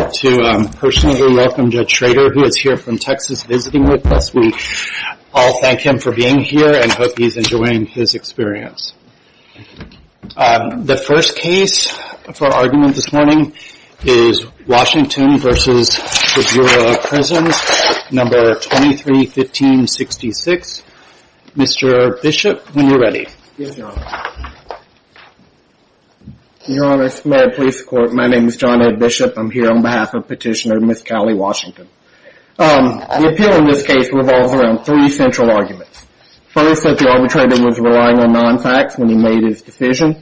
I'd like to personally welcome Judge Schrader, who is here from Texas visiting with us. We all thank him for being here and hope he's enjoying his experience. The first case for argument this morning is Washington v. The Bureau of Prisons, No. 23-15-66. Mr. Bishop, when you're ready. Yes, Your Honor. Your Honor, Mayor of the Police Court, my name is John Bishop. I'm here on behalf of Petitioner Ms. Callie Washington. The appeal in this case revolves around three central arguments. First, that the arbitrator was relying on non-facts when he made his decision.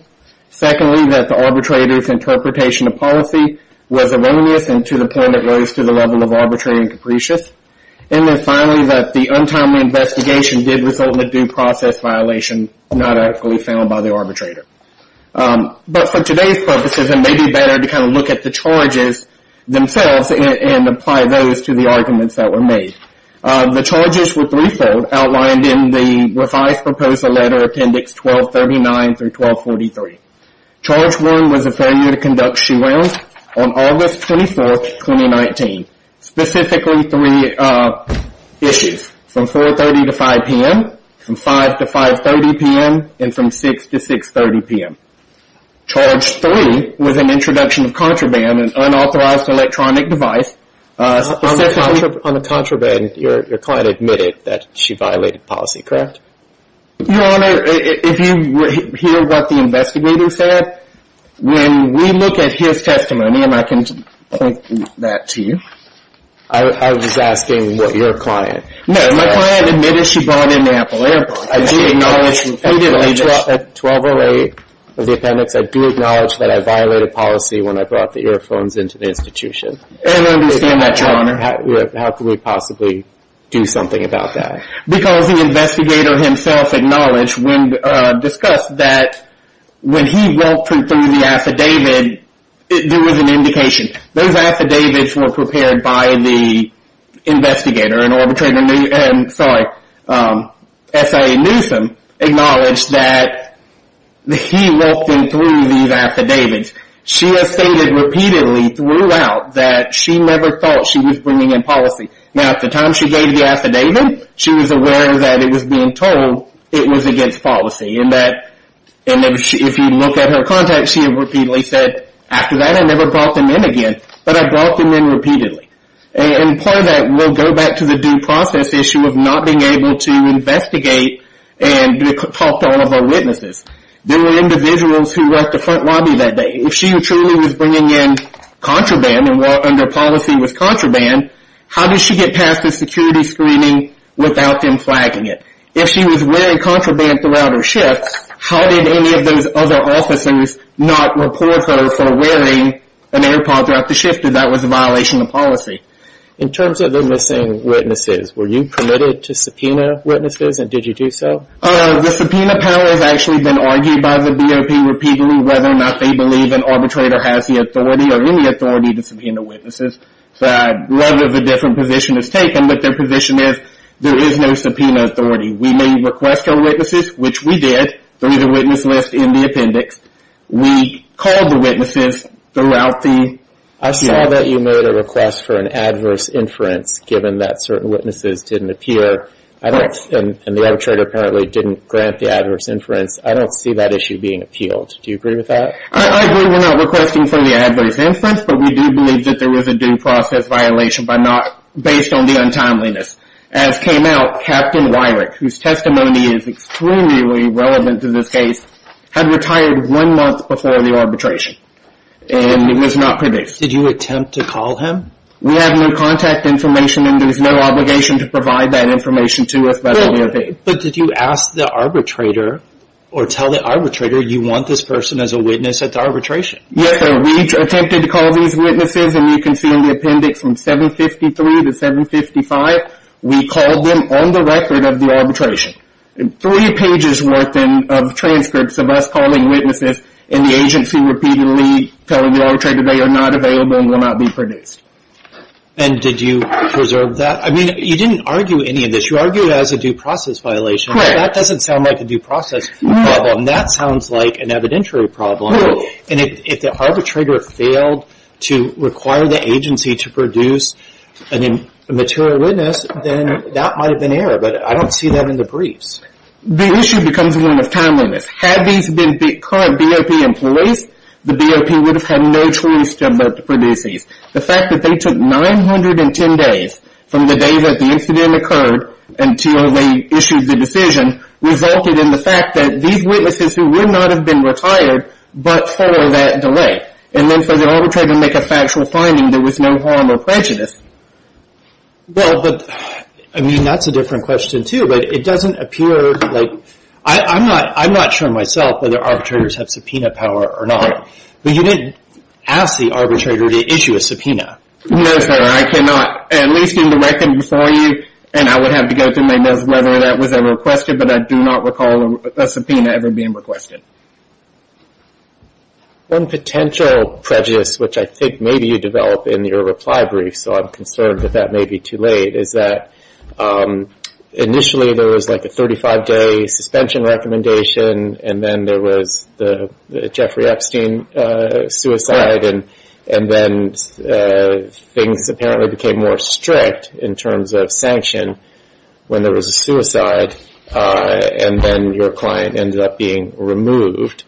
Secondly, that the arbitrator's interpretation of policy was erroneous and to the point it rose to the level of arbitrary and capricious. And then finally, that the untimely investigation did result in a due process violation not actually found by the arbitrator. But for today's purposes, it may be better to kind of look at the charges themselves and apply those to the arguments that were made. The charges were threefold, outlined in the revised proposal letter, appendix 1239-1243. Charge one was a failure to conduct shoe rounds on August 24th, 2019. Specifically three issues, from 4.30 to 5 p.m., from 5 to 5.30 p.m., and from 6 to 6.30 p.m. Charge three was an introduction of contraband, an unauthorized electronic device. On the contraband, your client admitted that she violated policy, correct? Your Honor, if you hear what the investigator said, when we look at his testimony, and I can point that to you. I was asking what your client. No, my client admitted she brought in the Apple AirPod. I do acknowledge that 1208 of the appendix, I do acknowledge that I violated policy when I brought the earphones into the institution. I understand that, Your Honor. How can we possibly do something about that? Because the investigator himself acknowledged, discussed that when he walked him through the affidavit, there was an indication. Those affidavits were prepared by the investigator, an arbitrator, sorry, S.I.A. Newsom, acknowledged that he walked him through these affidavits. She has stated repeatedly throughout that she never thought she was bringing in policy. Now, at the time she gave the affidavit, she was aware that it was being told it was against policy. If you look at her contact, she repeatedly said, after that I never brought them in again, but I brought them in repeatedly. Part of that, we'll go back to the due process issue of not being able to investigate and talk to all of our witnesses. There were individuals who were at the front lobby that day. If she truly was bringing in contraband, and her policy was contraband, how did she get past the security screening without them flagging it? If she was wearing contraband throughout her shift, how did any of those other officers not report her for wearing an AirPod throughout the shift if that was a violation of policy? In terms of the missing witnesses, were you permitted to subpoena witnesses, and did you do so? The subpoena power has actually been argued by the BOP repeatedly, whether or not they believe an arbitrator has the authority, or any authority, to subpoena witnesses. So, I'd love if a different position is taken, but their position is there is no subpoena authority. We may request our witnesses, which we did, through the witness list in the appendix. We called the witnesses throughout the shift. I saw that you made a request for an adverse inference, given that certain witnesses didn't appear, and the arbitrator apparently didn't grant the adverse inference. I don't see that issue being appealed. Do you agree with that? I agree we're not requesting for the adverse inference, but we do believe that there was a due process violation based on the untimeliness. As came out, Captain Wyrick, whose testimony is extremely relevant to this case, had retired one month before the arbitration, and he was not produced. Did you attempt to call him? We have no contact information, and there's no obligation to provide that information to us, but we obeyed. But did you ask the arbitrator, or tell the arbitrator, you want this person as a witness at the arbitration? Yes, sir. We attempted to call these witnesses, and you can see in the appendix, from 753 to 755, we called them on the record of the arbitration, three pages worth of transcripts of us calling witnesses, and the agency repeatedly telling the arbitrator they are not available and will not be produced. And did you preserve that? I mean, you didn't argue any of this. What you argue as a due process violation, that doesn't sound like a due process problem. That sounds like an evidentiary problem, and if the arbitrator failed to require the agency to produce a material witness, then that might have been error, but I don't see that in the briefs. The issue becomes one of timeliness. Had these been current BOP employees, the BOP would have had no choice to produce these. The fact that they took 910 days from the day that the incident occurred until they issued the decision resulted in the fact that these witnesses who would not have been retired but follow that delay, and then for the arbitrator to make a factual finding, there was no harm or prejudice. Well, but, I mean, that's a different question, too, but it doesn't appear, like, I'm not sure myself whether arbitrators have subpoena power or not, but you didn't ask the arbitrator to issue a subpoena. No, sir. I cannot, at least in the record before you, and I would have to go through my notes whether that was ever requested, but I do not recall a subpoena ever being requested. One potential prejudice, which I think maybe you develop in your reply brief, so I'm concerned that that may be too late, is that initially there was, like, a 35-day suspension recommendation, and then there was the Jeffrey Epstein suicide, and then things apparently became more strict in terms of sanction when there was a suicide, and then your client ended up being removed.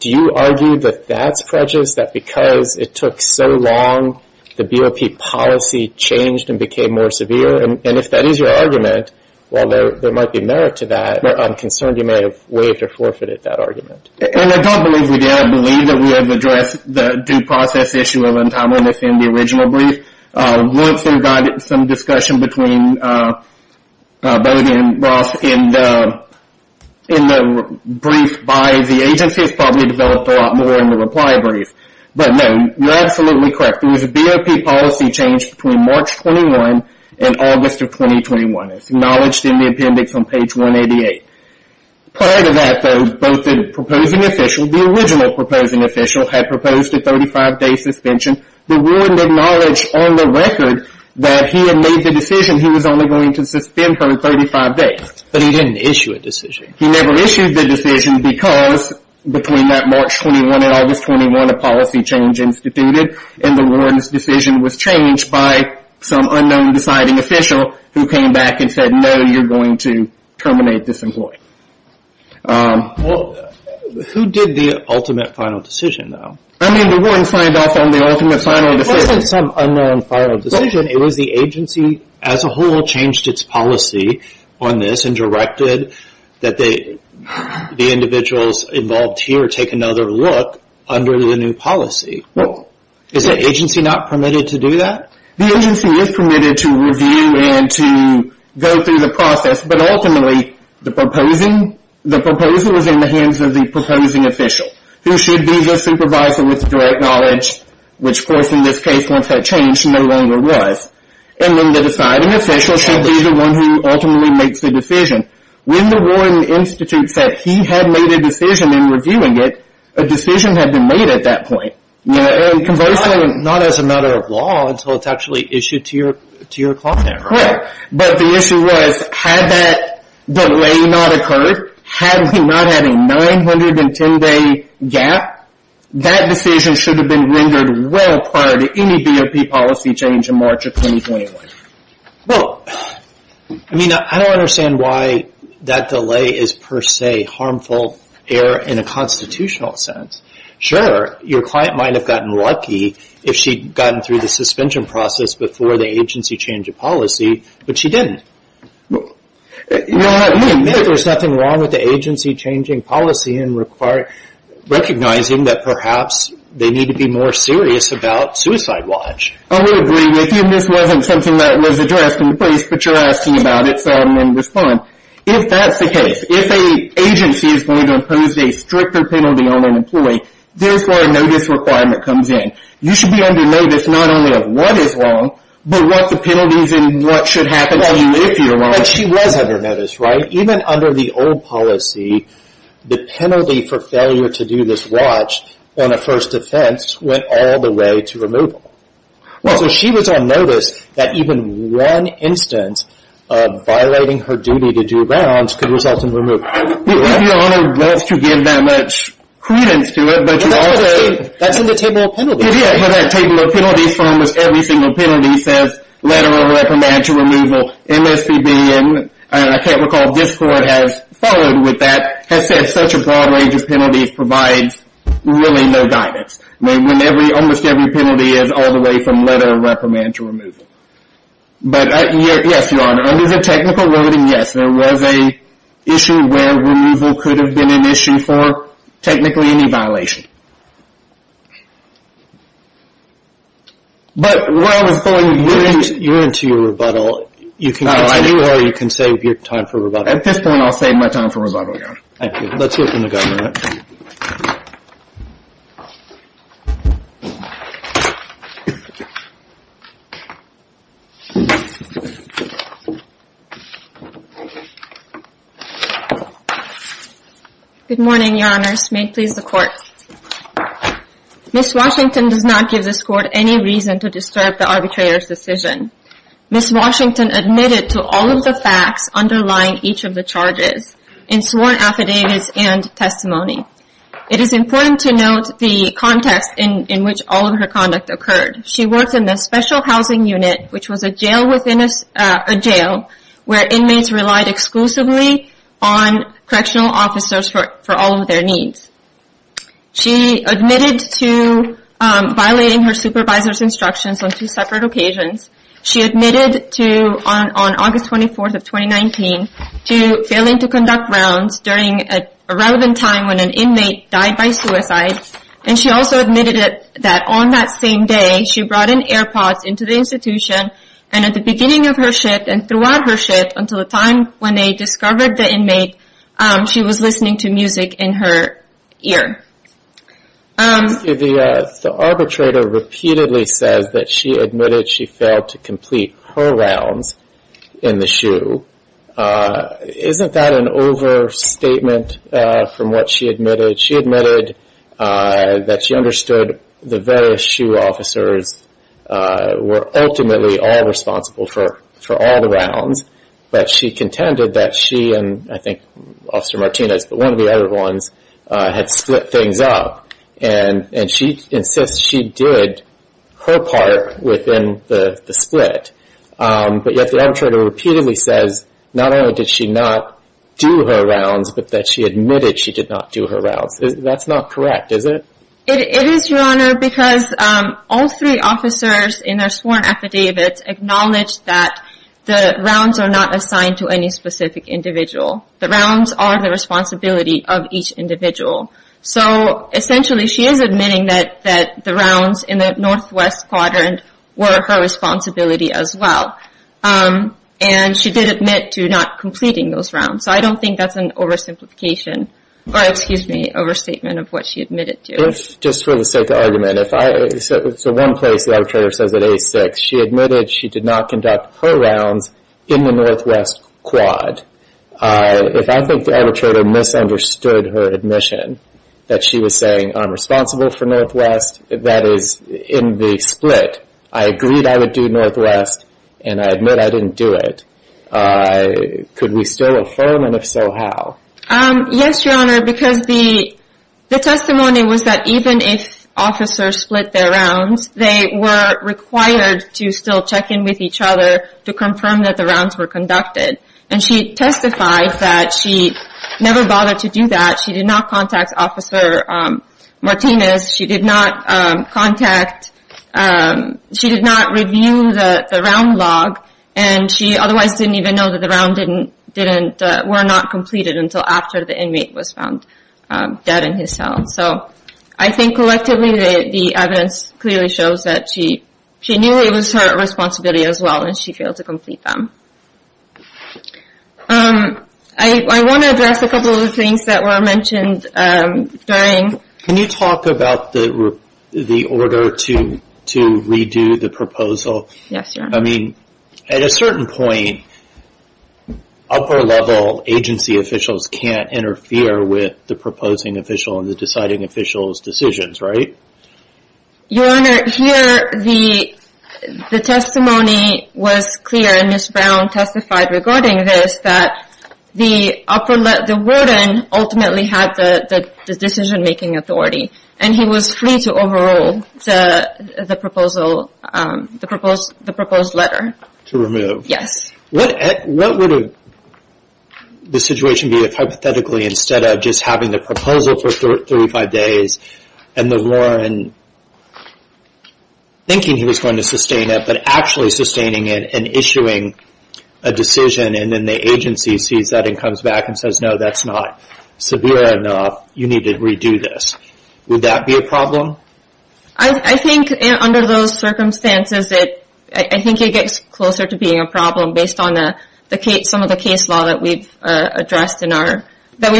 Do you argue that that's prejudice, that because it took so long, the BOP policy changed and became more severe? And if that is your argument, while there might be merit to that, I'm concerned you may have waived or forfeited that argument. And I don't believe we did. I believe that we have addressed the due process issue of untimeliness in the original brief. Once there got some discussion between Bode and Ross in the brief by the agency, it's probably developed a lot more in the reply brief, but no, you're absolutely correct. There was a BOP policy change between March 21 and August of 2021. It's acknowledged in the appendix on page 188. Prior to that, though, both the proposing official, the original proposing official, had proposed a 35-day suspension. The warden acknowledged on the record that he had made the decision he was only going to suspend her 35 days. But he didn't issue a decision. He never issued the decision because, between that March 21 and August 21, a policy change instituted, and the warden's decision was changed by some unknown deciding official who came back and said, no, you're going to terminate this employee. Well, who did the ultimate final decision, though? I mean, the warden signed off on the ultimate final decision. It wasn't some unknown final decision. It was the agency as a whole changed its policy on this and directed that the individuals involved here take another look under the new policy. Is the agency not permitted to do that? The agency is permitted to review and to go through the process. But ultimately, the proposal is in the hands of the proposing official, who should be the supervisor with direct knowledge, which, of course, in this case, once that changed, no longer was. And then the deciding official should be the one who ultimately makes the decision. When the warden institute said he had made a decision in reviewing it, a decision had been made at that point. Conversely, not as a matter of law until it's actually issued to your client. Right. But the issue was, had that delay not occurred, had we not had a 910-day gap, that decision should have been rendered well prior to any BOP policy change in March of 2021. Well, I mean, I don't understand why that delay is, per se, harmful error in a constitutional sense. Sure, your client might have gotten lucky if she'd gotten through the suspension process before the agency changed a policy, but she didn't. Well, I mean, there's nothing wrong with the agency changing policy and recognizing that perhaps they need to be more serious about Suicide Watch. I would agree with you. This wasn't something that was addressed in place, but you're asking about it, so I'm going to respond. If that's the case, if an agency is going to impose a stricter penalty on an employee, there's where a notice requirement comes in. You should be under notice not only of what is wrong, but what the penalties and what should happen to you if you're wrong. But she was under notice, right? Even under the old policy, the penalty for failure to do this watch on a first offense went all the way to removal. Well, so she was on notice that even one instance of violating her duty to do rounds could result in removal. Your Honor wants to give that much credence to it, but you also- That's in the table of penalties. Yeah, but that table of penalties for almost every single penalty says letter of reprimand to removal, MSPB, and I can't recall if this court has followed with that, has said such a broad range of penalties provides really no guidance. Almost every penalty is all the way from letter of reprimand to removal. But yes, Your Honor, under the technical wording, yes. There was an issue where removal could have been an issue for technically any violation. But where I was going- You're into your rebuttal. You can go anywhere. You can save your time for rebuttal. At this point, I'll save my time for rebuttal, Your Honor. Thank you. Let's hear from the governor. Good morning, Your Honors. May it please the court. Ms. Washington does not give this court any reason to disturb the arbitrator's decision. Ms. Washington admitted to all of the facts underlying each of the charges, and sworn affidavits and testimony. It is important to note the context in which all of her conduct occurred. She worked in the special housing unit, which was a jail within a jail, where inmates relied exclusively on correctional officers for all of their needs. She admitted to violating her supervisor's instructions on two separate occasions. She admitted to, on August 24th of 2019, to failing to conduct rounds during a relevant time when an inmate died by suicide. And she also admitted that on that same day, she brought in air pods into the institution. And at the beginning of her shift and throughout her shift, until the time when they discovered the inmate, she was listening to music in her ear. The arbitrator repeatedly says that she admitted she failed to complete her rounds in the shoe. Isn't that an overstatement from what she admitted? She admitted that she understood the various shoe officers were ultimately all responsible for all the rounds, but she contended that she and I think Officer Martinez, but one of the other ones, had split things up. And she insists she did her part within the split. But yet the arbitrator repeatedly says not only did she not do her rounds, but that she admitted she did not do her rounds. That's not correct, is it? It is, Your Honor, because all three officers in their sworn affidavits acknowledged that the rounds are not assigned to any specific individual. The rounds are the responsibility of each individual. So essentially, she is admitting that the rounds in the northwest quadrant were her responsibility as well. And she did admit to not completing those rounds. So I don't think that's an oversimplification, or excuse me, overstatement of what she admitted to. If, just for the sake of argument, if I, so one place the arbitrator says at A6, she admitted she did not conduct her rounds in the northwest quad. If I think the arbitrator misunderstood her admission, that she was saying I'm responsible for northwest, that is in the split, I agreed I would do northwest, and I admit I didn't do it. I could we still affirm, and if so, how? Yes, Your Honor, because the testimony was that even if officers split their rounds, they were required to still check in with each other to confirm that the rounds were conducted. And she testified that she never bothered to do that. She did not contact Officer Martinez. She did not contact, she did not review the round log. And she otherwise didn't even know that the round were not completed until after the inmate was found dead in his cell. So I think collectively, the evidence clearly shows that she knew it was her responsibility as well, and she failed to complete them. I want to address a couple of things that were mentioned during. Can you talk about the order to redo the proposal? Yes, Your Honor. I mean, at a certain point, upper-level agency officials can't interfere with the proposing official and the deciding official's decisions, right? Your Honor, here the testimony was clear, and Ms. Brown testified regarding this, that the warden ultimately had the decision-making authority, and he was free to overrule the proposed letter. To remove? Yes. What would the situation be if, hypothetically, instead of just having the proposal for 35 days, and the warden thinking he was going to sustain it, but actually sustaining it and issuing a decision, and then the agency sees that and comes back and says, no, that's not severe enough. You need to redo this. Would that be a problem? I think under those circumstances, I think it gets closer to being a problem based on some of the case law that we've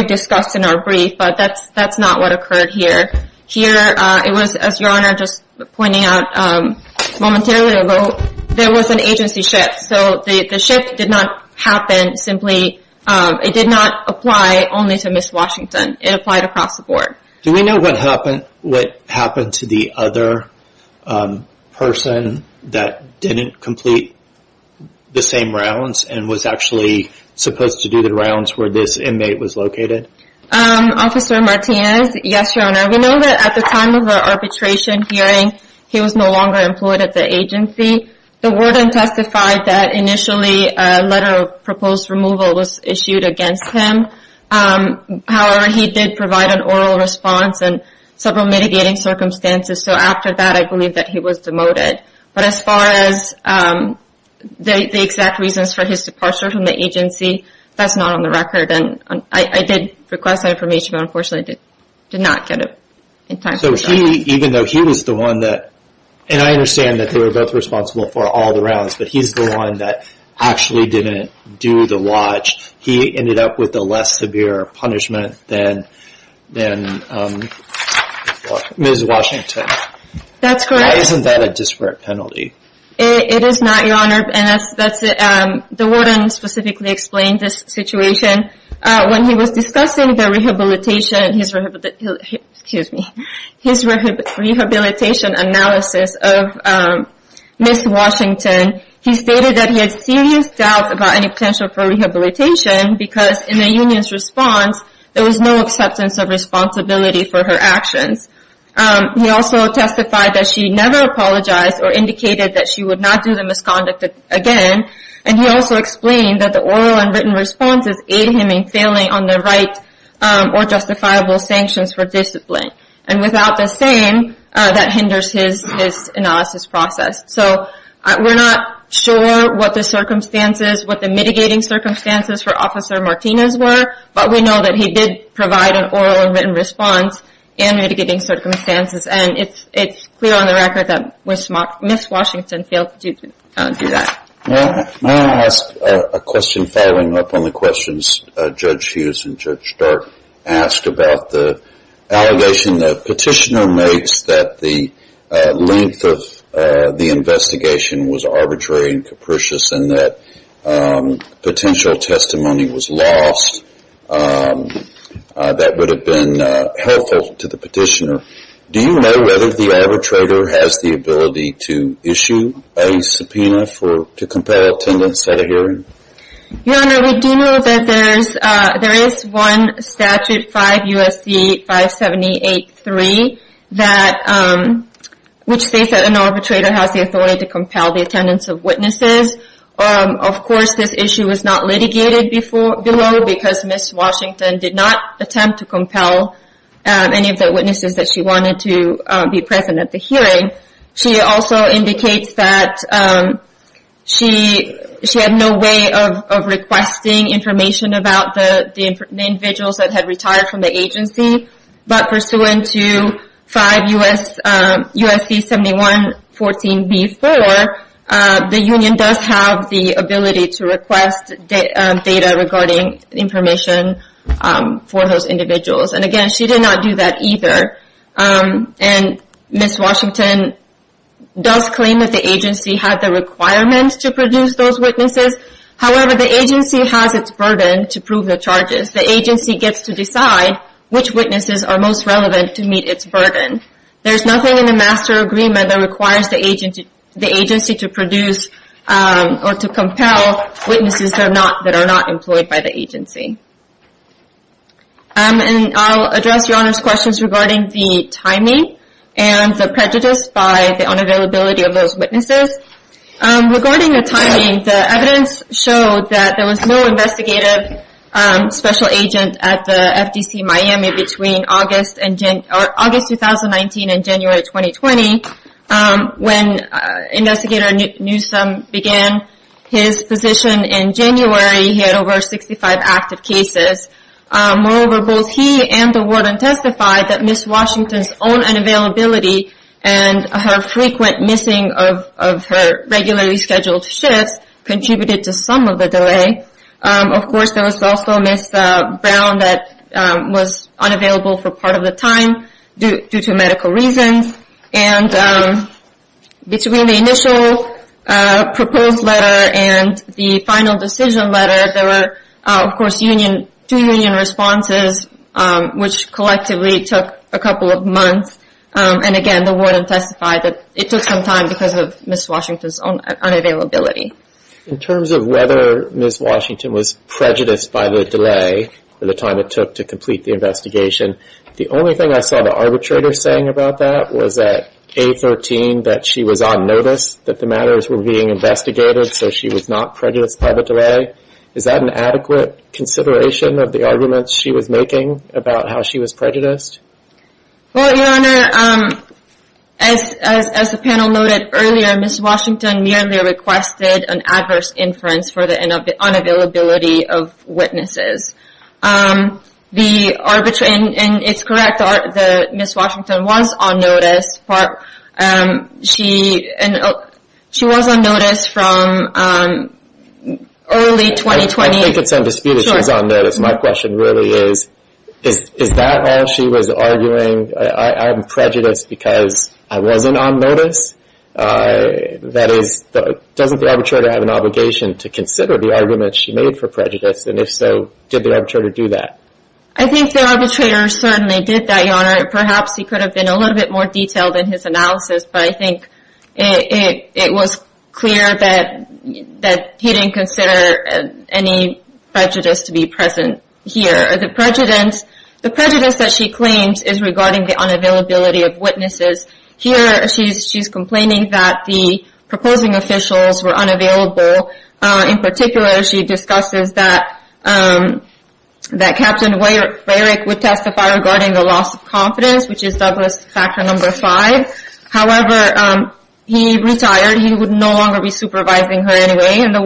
discussed in our brief, but that's not what occurred here. Here, it was, as Your Honor just pointed out momentarily ago, there was an agency shift. So the shift did not happen simply. It did not apply only to Ms. Washington. It applied across the board. Do we know what happened to the other person that didn't complete the same rounds and was actually supposed to do the rounds where this inmate was located? Officer Martinez? Yes, Your Honor. We know that at the time of the arbitration hearing, he was no longer employed at the agency. The warden testified that initially a letter of proposed removal was issued against him. However, he did provide an oral response and several mitigating circumstances. So after that, I believe that he was demoted. But as far as the exact reasons for his departure from the agency, that's not on the record. And I did request that information, but unfortunately, I did not get it in time. So he, even though he was the one that... And I understand that they were both responsible for all the rounds, but he's the one that actually didn't do the watch. He ended up with a less severe punishment than Ms. Washington. That's correct. Isn't that a disparate penalty? It is not, Your Honor. And the warden specifically explained this situation. When he was discussing his rehabilitation analysis of Ms. Washington, he stated that he had serious doubts about any potential for rehabilitation because in the union's response, there was no acceptance of responsibility for her actions. He also testified that she never apologized or indicated that she would not do the misconduct again. And he also explained that the oral and written responses aid him in failing on the right or justifiable sanctions for discipline. And without the same, that hinders his analysis process. So we're not sure what the circumstances, what the mitigating circumstances for Officer Martinez were, but we know that he did provide an oral and written response and mitigating circumstances. And it's clear on the record that Ms. Washington failed to do that. May I ask a question following up on the questions Judge Hughes and Judge Stark asked about the allegation that petitioner makes that the length of the investigation was arbitrary and capricious and that potential testimony was lost. That would have been helpful to the petitioner. Do you know whether the arbitrator has the ability to issue a subpoena to compel attendance at a hearing? Your Honor, we do know that there is one statute, 5 U.S.C. 578-3, which states that an arbitrator has the authority to compel the attendance of witnesses. Of course, this issue was not litigated below because Ms. Washington did not attempt to compel any of the witnesses that she wanted to be present at the hearing. She also indicates that she had no way of requesting information about the individuals that had retired from the agency. But pursuant to 5 U.S.C. 71-14-B-4, the union does have the ability to request data regarding information for those individuals. And again, she did not do that either. And Ms. Washington does claim that the agency had the requirement to produce those witnesses. However, the agency has its burden to prove the charges. The agency gets to decide which witnesses are most relevant to meet its burden. There's nothing in the master agreement that requires the agency to produce or to compel witnesses that are not employed by the agency. And I'll address Your Honor's questions regarding the timing and the prejudice by the unavailability of those witnesses. Regarding the timing, the evidence showed that there was no investigative special agent at the FDC Miami between August 2019 and January 2020 when investigator Newsom began his position in January. He had over 65 active cases. Moreover, both he and the warden testified that Ms. Washington's own unavailability and her frequent missing of her regularly scheduled shifts contributed to some of the delay. Of course, there was also Ms. Brown that was unavailable for part of the time due to medical reasons. And between the initial proposed letter and the final decision letter, there were, of course, two union responses which collectively took a couple of months. And again, the warden testified that it took some time because of Ms. Washington's own unavailability. In terms of whether Ms. Washington was prejudiced by the delay for the time it took to complete the investigation, the only thing I saw the arbitrator saying about that was that A13, that she was on notice that the matters were being investigated. So she was not prejudiced by the delay. Is that an adequate consideration of the arguments she was making about how she was prejudiced? Well, your honor, as the panel noted earlier, Ms. Washington merely requested an adverse inference for the unavailability of witnesses. And it's correct that Ms. Washington was on notice. And she was on notice from early 2020. I think it's undisputed she's on notice. My question really is, is that all she was arguing? I'm prejudiced because I wasn't on notice? That is, doesn't the arbitrator have an obligation to consider the arguments she made for prejudice? And if so, did the arbitrator do that? I think the arbitrator certainly did that, your honor. Perhaps he could have been a little bit more detailed in his analysis, but I think it was clear that he didn't consider any prejudice to be present here. The prejudice that she claims is regarding the unavailability of witnesses. Here, she's complaining that the proposing officials were unavailable. In particular, she discusses that Captain Rarick would testify regarding the loss of confidence, which is Douglas Factor No. 5. However, he retired. He would no longer be supervising her anyway. And the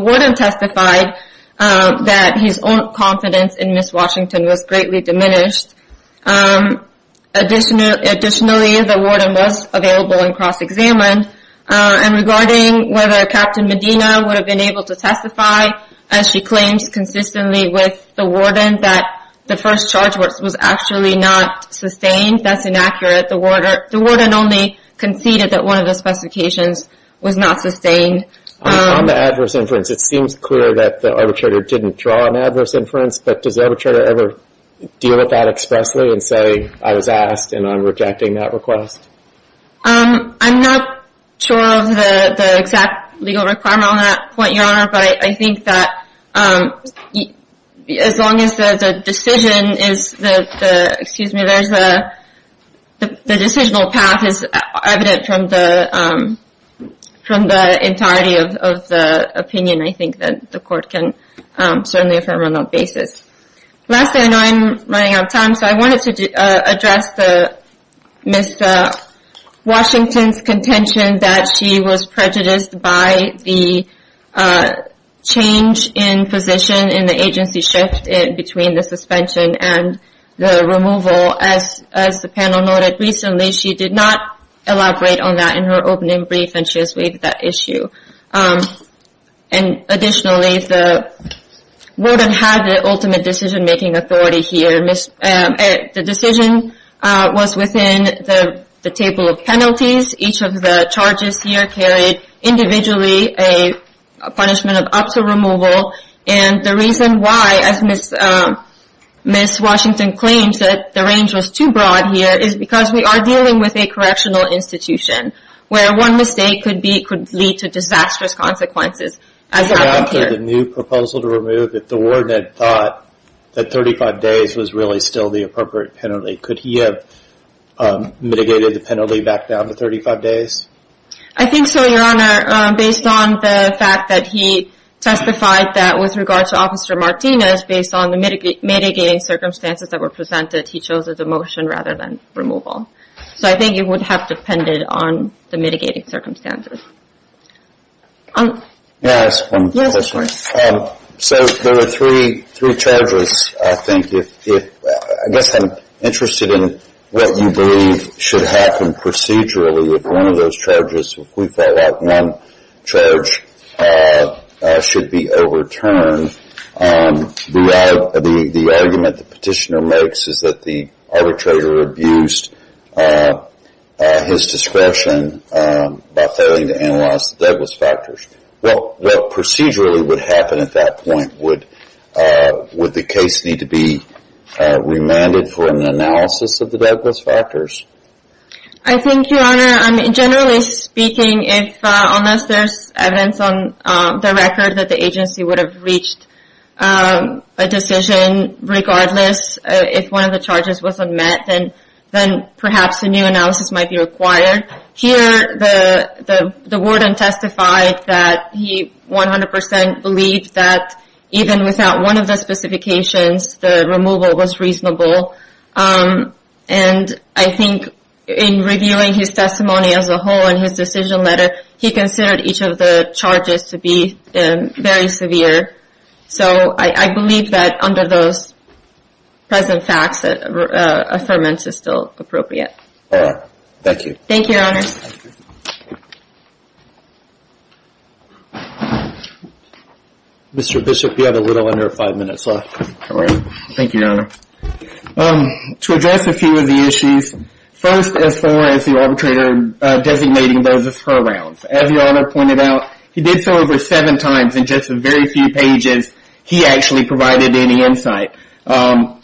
warden testified that his own confidence in Ms. Washington was greatly diminished. Additionally, the warden was available and cross-examined. And regarding whether Captain Medina would have been able to testify, as she claims consistently with the warden, that the first charge was actually not sustained. That's inaccurate. The warden only conceded that one of the specifications was not sustained. On the adverse inference, it seems clear that the arbitrator didn't draw an adverse inference. But does the arbitrator ever deal with that expressly and say, I was asked and I'm rejecting that request? I'm not sure of the exact legal requirement on that point, your honor. But I think that as long as the decisional path is evident from the entirety of the opinion, I think that the court can certainly affirm on that basis. Lastly, I know I'm running out of time. So I wanted to address Ms. Washington's contention that she was prejudiced by the change in position in the agency shift between the suspension and the removal. As the panel noted recently, she did not elaborate on that in her opening brief and she has waived that issue. And additionally, the warden had the ultimate decision-making authority here. The decision was within the table of penalties. Each of the charges here carried individually a punishment of up to removal. And the reason why, as Ms. Washington claims, that the range was too broad here is because we are dealing with a correctional institution where one mistake could lead to disastrous consequences as it happened here. After the new proposal to remove it, the warden thought that 35 days was really still the appropriate penalty. Could he have mitigated the penalty back down to 35 days? I think so, Your Honor. Based on the fact that he testified that with regard to Officer Martinez, based on the mitigating circumstances that were presented, he chose a demotion rather than removal. So I think it would have depended on the mitigating circumstances. So there are three charges, I think. I guess I'm interested in what you believe should happen procedurally with one of those charges if we felt like one charge should be overturned. The argument the petitioner makes is that the arbitrator abused his discretion by failing to analyze the Douglas factors. Well, what procedurally would happen at that point? Would the case need to be remanded for an analysis of the Douglas factors? I think, Your Honor, generally speaking, unless there's evidence on the record that the agency would have reached a decision regardless if one of the charges was unmet, then perhaps a new analysis might be required. Here, the warden testified that he 100% believed that even without one of the specifications, the removal was reasonable. And I think in reviewing his testimony as a whole and his decision letter, he considered each of the charges to be very severe. So I believe that under those present facts that affirmance is still appropriate. All right. Thank you. Thank you, Your Honor. Mr. Bishop, you have a little under five minutes left. All right. Thank you, Your Honor. To address a few of the issues, first as far as the arbitrator designating those as her rounds. As Your Honor pointed out, he did so over seven times in just a very few pages. He actually provided any insight. And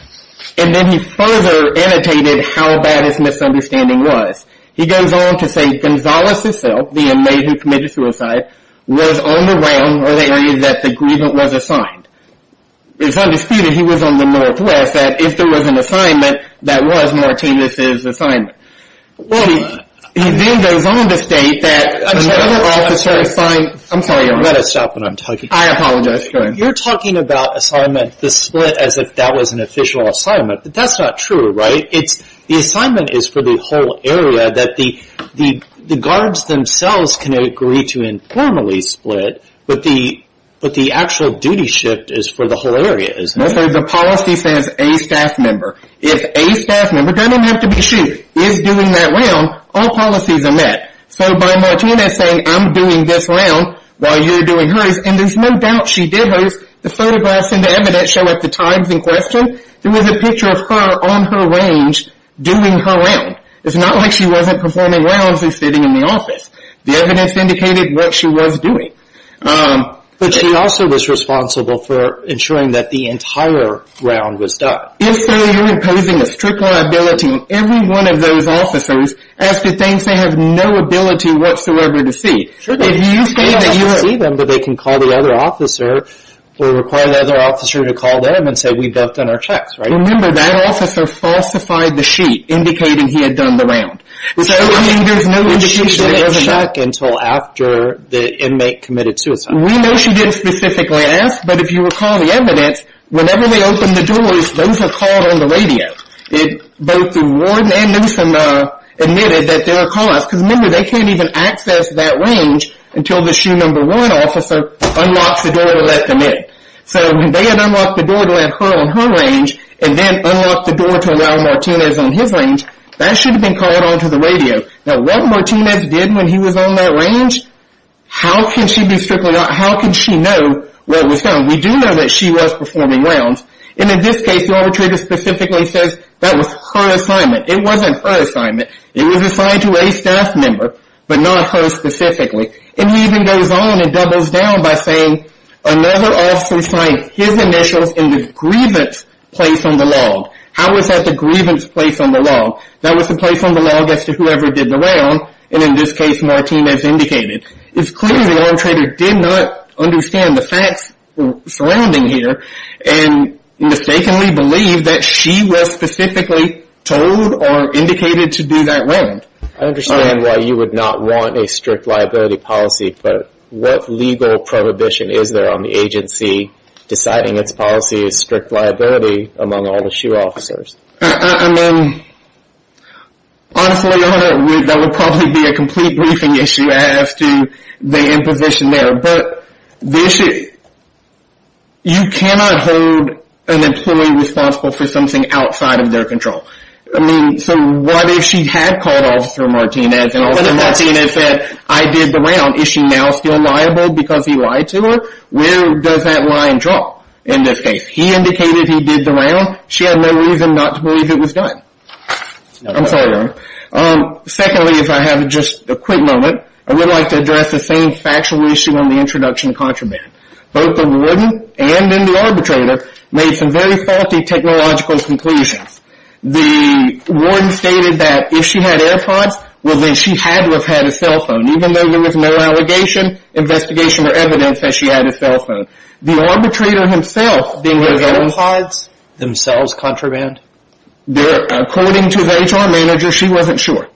then he further annotated how bad his misunderstanding was. He goes on to say Gonzales himself, the inmate who committed suicide, was on the round or the area that the grievance was assigned. It's undisputed he was on the Northwest that if there was an assignment, that was Martinez's assignment. Well, he then goes on to state that... I'm sorry, Your Honor. Let us stop what I'm talking about. I apologize, Your Honor. You're talking about assignment, the split as if that was an official assignment, but that's not true, right? It's the assignment is for the whole area that the guards themselves can agree to informally split, but the actual duty shift is for the whole area, isn't it? So the policy says a staff member. If a staff member, doesn't have to be she, is doing that round, all policies are met. So by Martinez saying, I'm doing this round while you're doing hers, and there's no doubt she did hers. The photographs and the evidence show at the times in question, there was a picture of her on her range doing her round. It's not like she wasn't performing rounds and sitting in the office. The evidence indicated what she was doing. But she also was responsible for ensuring that the entire round was done. If so, you're imposing a strict liability on every one of those officers as to things they have no ability whatsoever to see. If you say that you have to see them, but they can call the other officer or require the other officer to call them and say, we've both done our checks, right? Remember that officer falsified the sheet indicating he had done the round. So I mean, there's no indication that he hasn't. Until after the inmate committed suicide. We know she didn't specifically ask, but if you recall the evidence, whenever they open the doors, those are called on the radio. It both Warden and Newsom admitted that they were callouts because remember, they can't even access that range until the shoe number one officer unlocks the door to let them in. So they had unlocked the door to let her on her range and then unlocked the door to allow Martinez on his range. That should have been called onto the radio. Now what Martinez did when he was on that range, how can she be strictly, how can she know what was done? We do know that she was performing rounds. And in this case, the arbitrator specifically says that was her assignment. It wasn't her assignment. It was assigned to a staff member, but not her specifically. And he even goes on and doubles down by saying, another officer signed his initials in the grievance place on the log. How was that the grievance place on the log? That was the place on the log as to whoever did the round. And in this case, Martinez indicated. It's clear the arbitrator did not understand the facts surrounding here and mistakenly believe that she was specifically told or indicated to do that round. I understand why you would not want a strict liability policy, but what legal prohibition is there on the agency deciding its policy is strict liability among all the shoe officers? I mean, honestly, that would probably be a complete briefing issue. As to the imposition there, but you cannot hold an employee responsible for something outside of their control. I mean, so what if she had called Officer Martinez and Officer Martinez said, I did the round. Is she now still liable because he lied to her? Where does that line drop in this case? He indicated he did the round. She had no reason not to believe it was done. I'm sorry, Ron. Secondly, if I have just a quick moment, I would like to address the same factual issue on the introduction of contraband. Both the warden and then the arbitrator made some very faulty technological conclusions. The warden stated that if she had AirPods, well, then she had to have had a cell phone, even though there was no allegation, investigation, or evidence that she had a cell phone. The arbitrator himself, did his AirPods themselves contraband? According to the HR manager, she wasn't sure.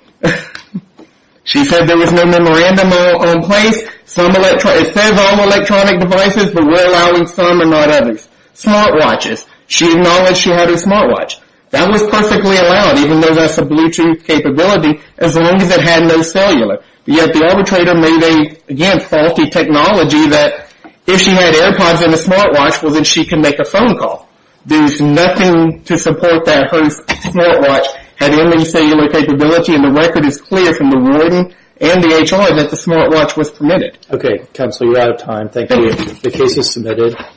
She said there was no memorandum on place. Some electronic, it says all electronic devices, but we're allowing some and not others. Smartwatches, she acknowledged she had a smartwatch. That was perfectly allowed, even though that's a Bluetooth capability, as long as it had no cellular. Yet the arbitrator made a, again, faulty technology that if she had AirPods and a smartwatch, well, then she can make a phone call. There's nothing to support that her smartwatch had any cellular capability. And the record is clear from the warden and the HR that the smartwatch was permitted. Okay. Counselor, you're out of time. Thank you. The case is submitted.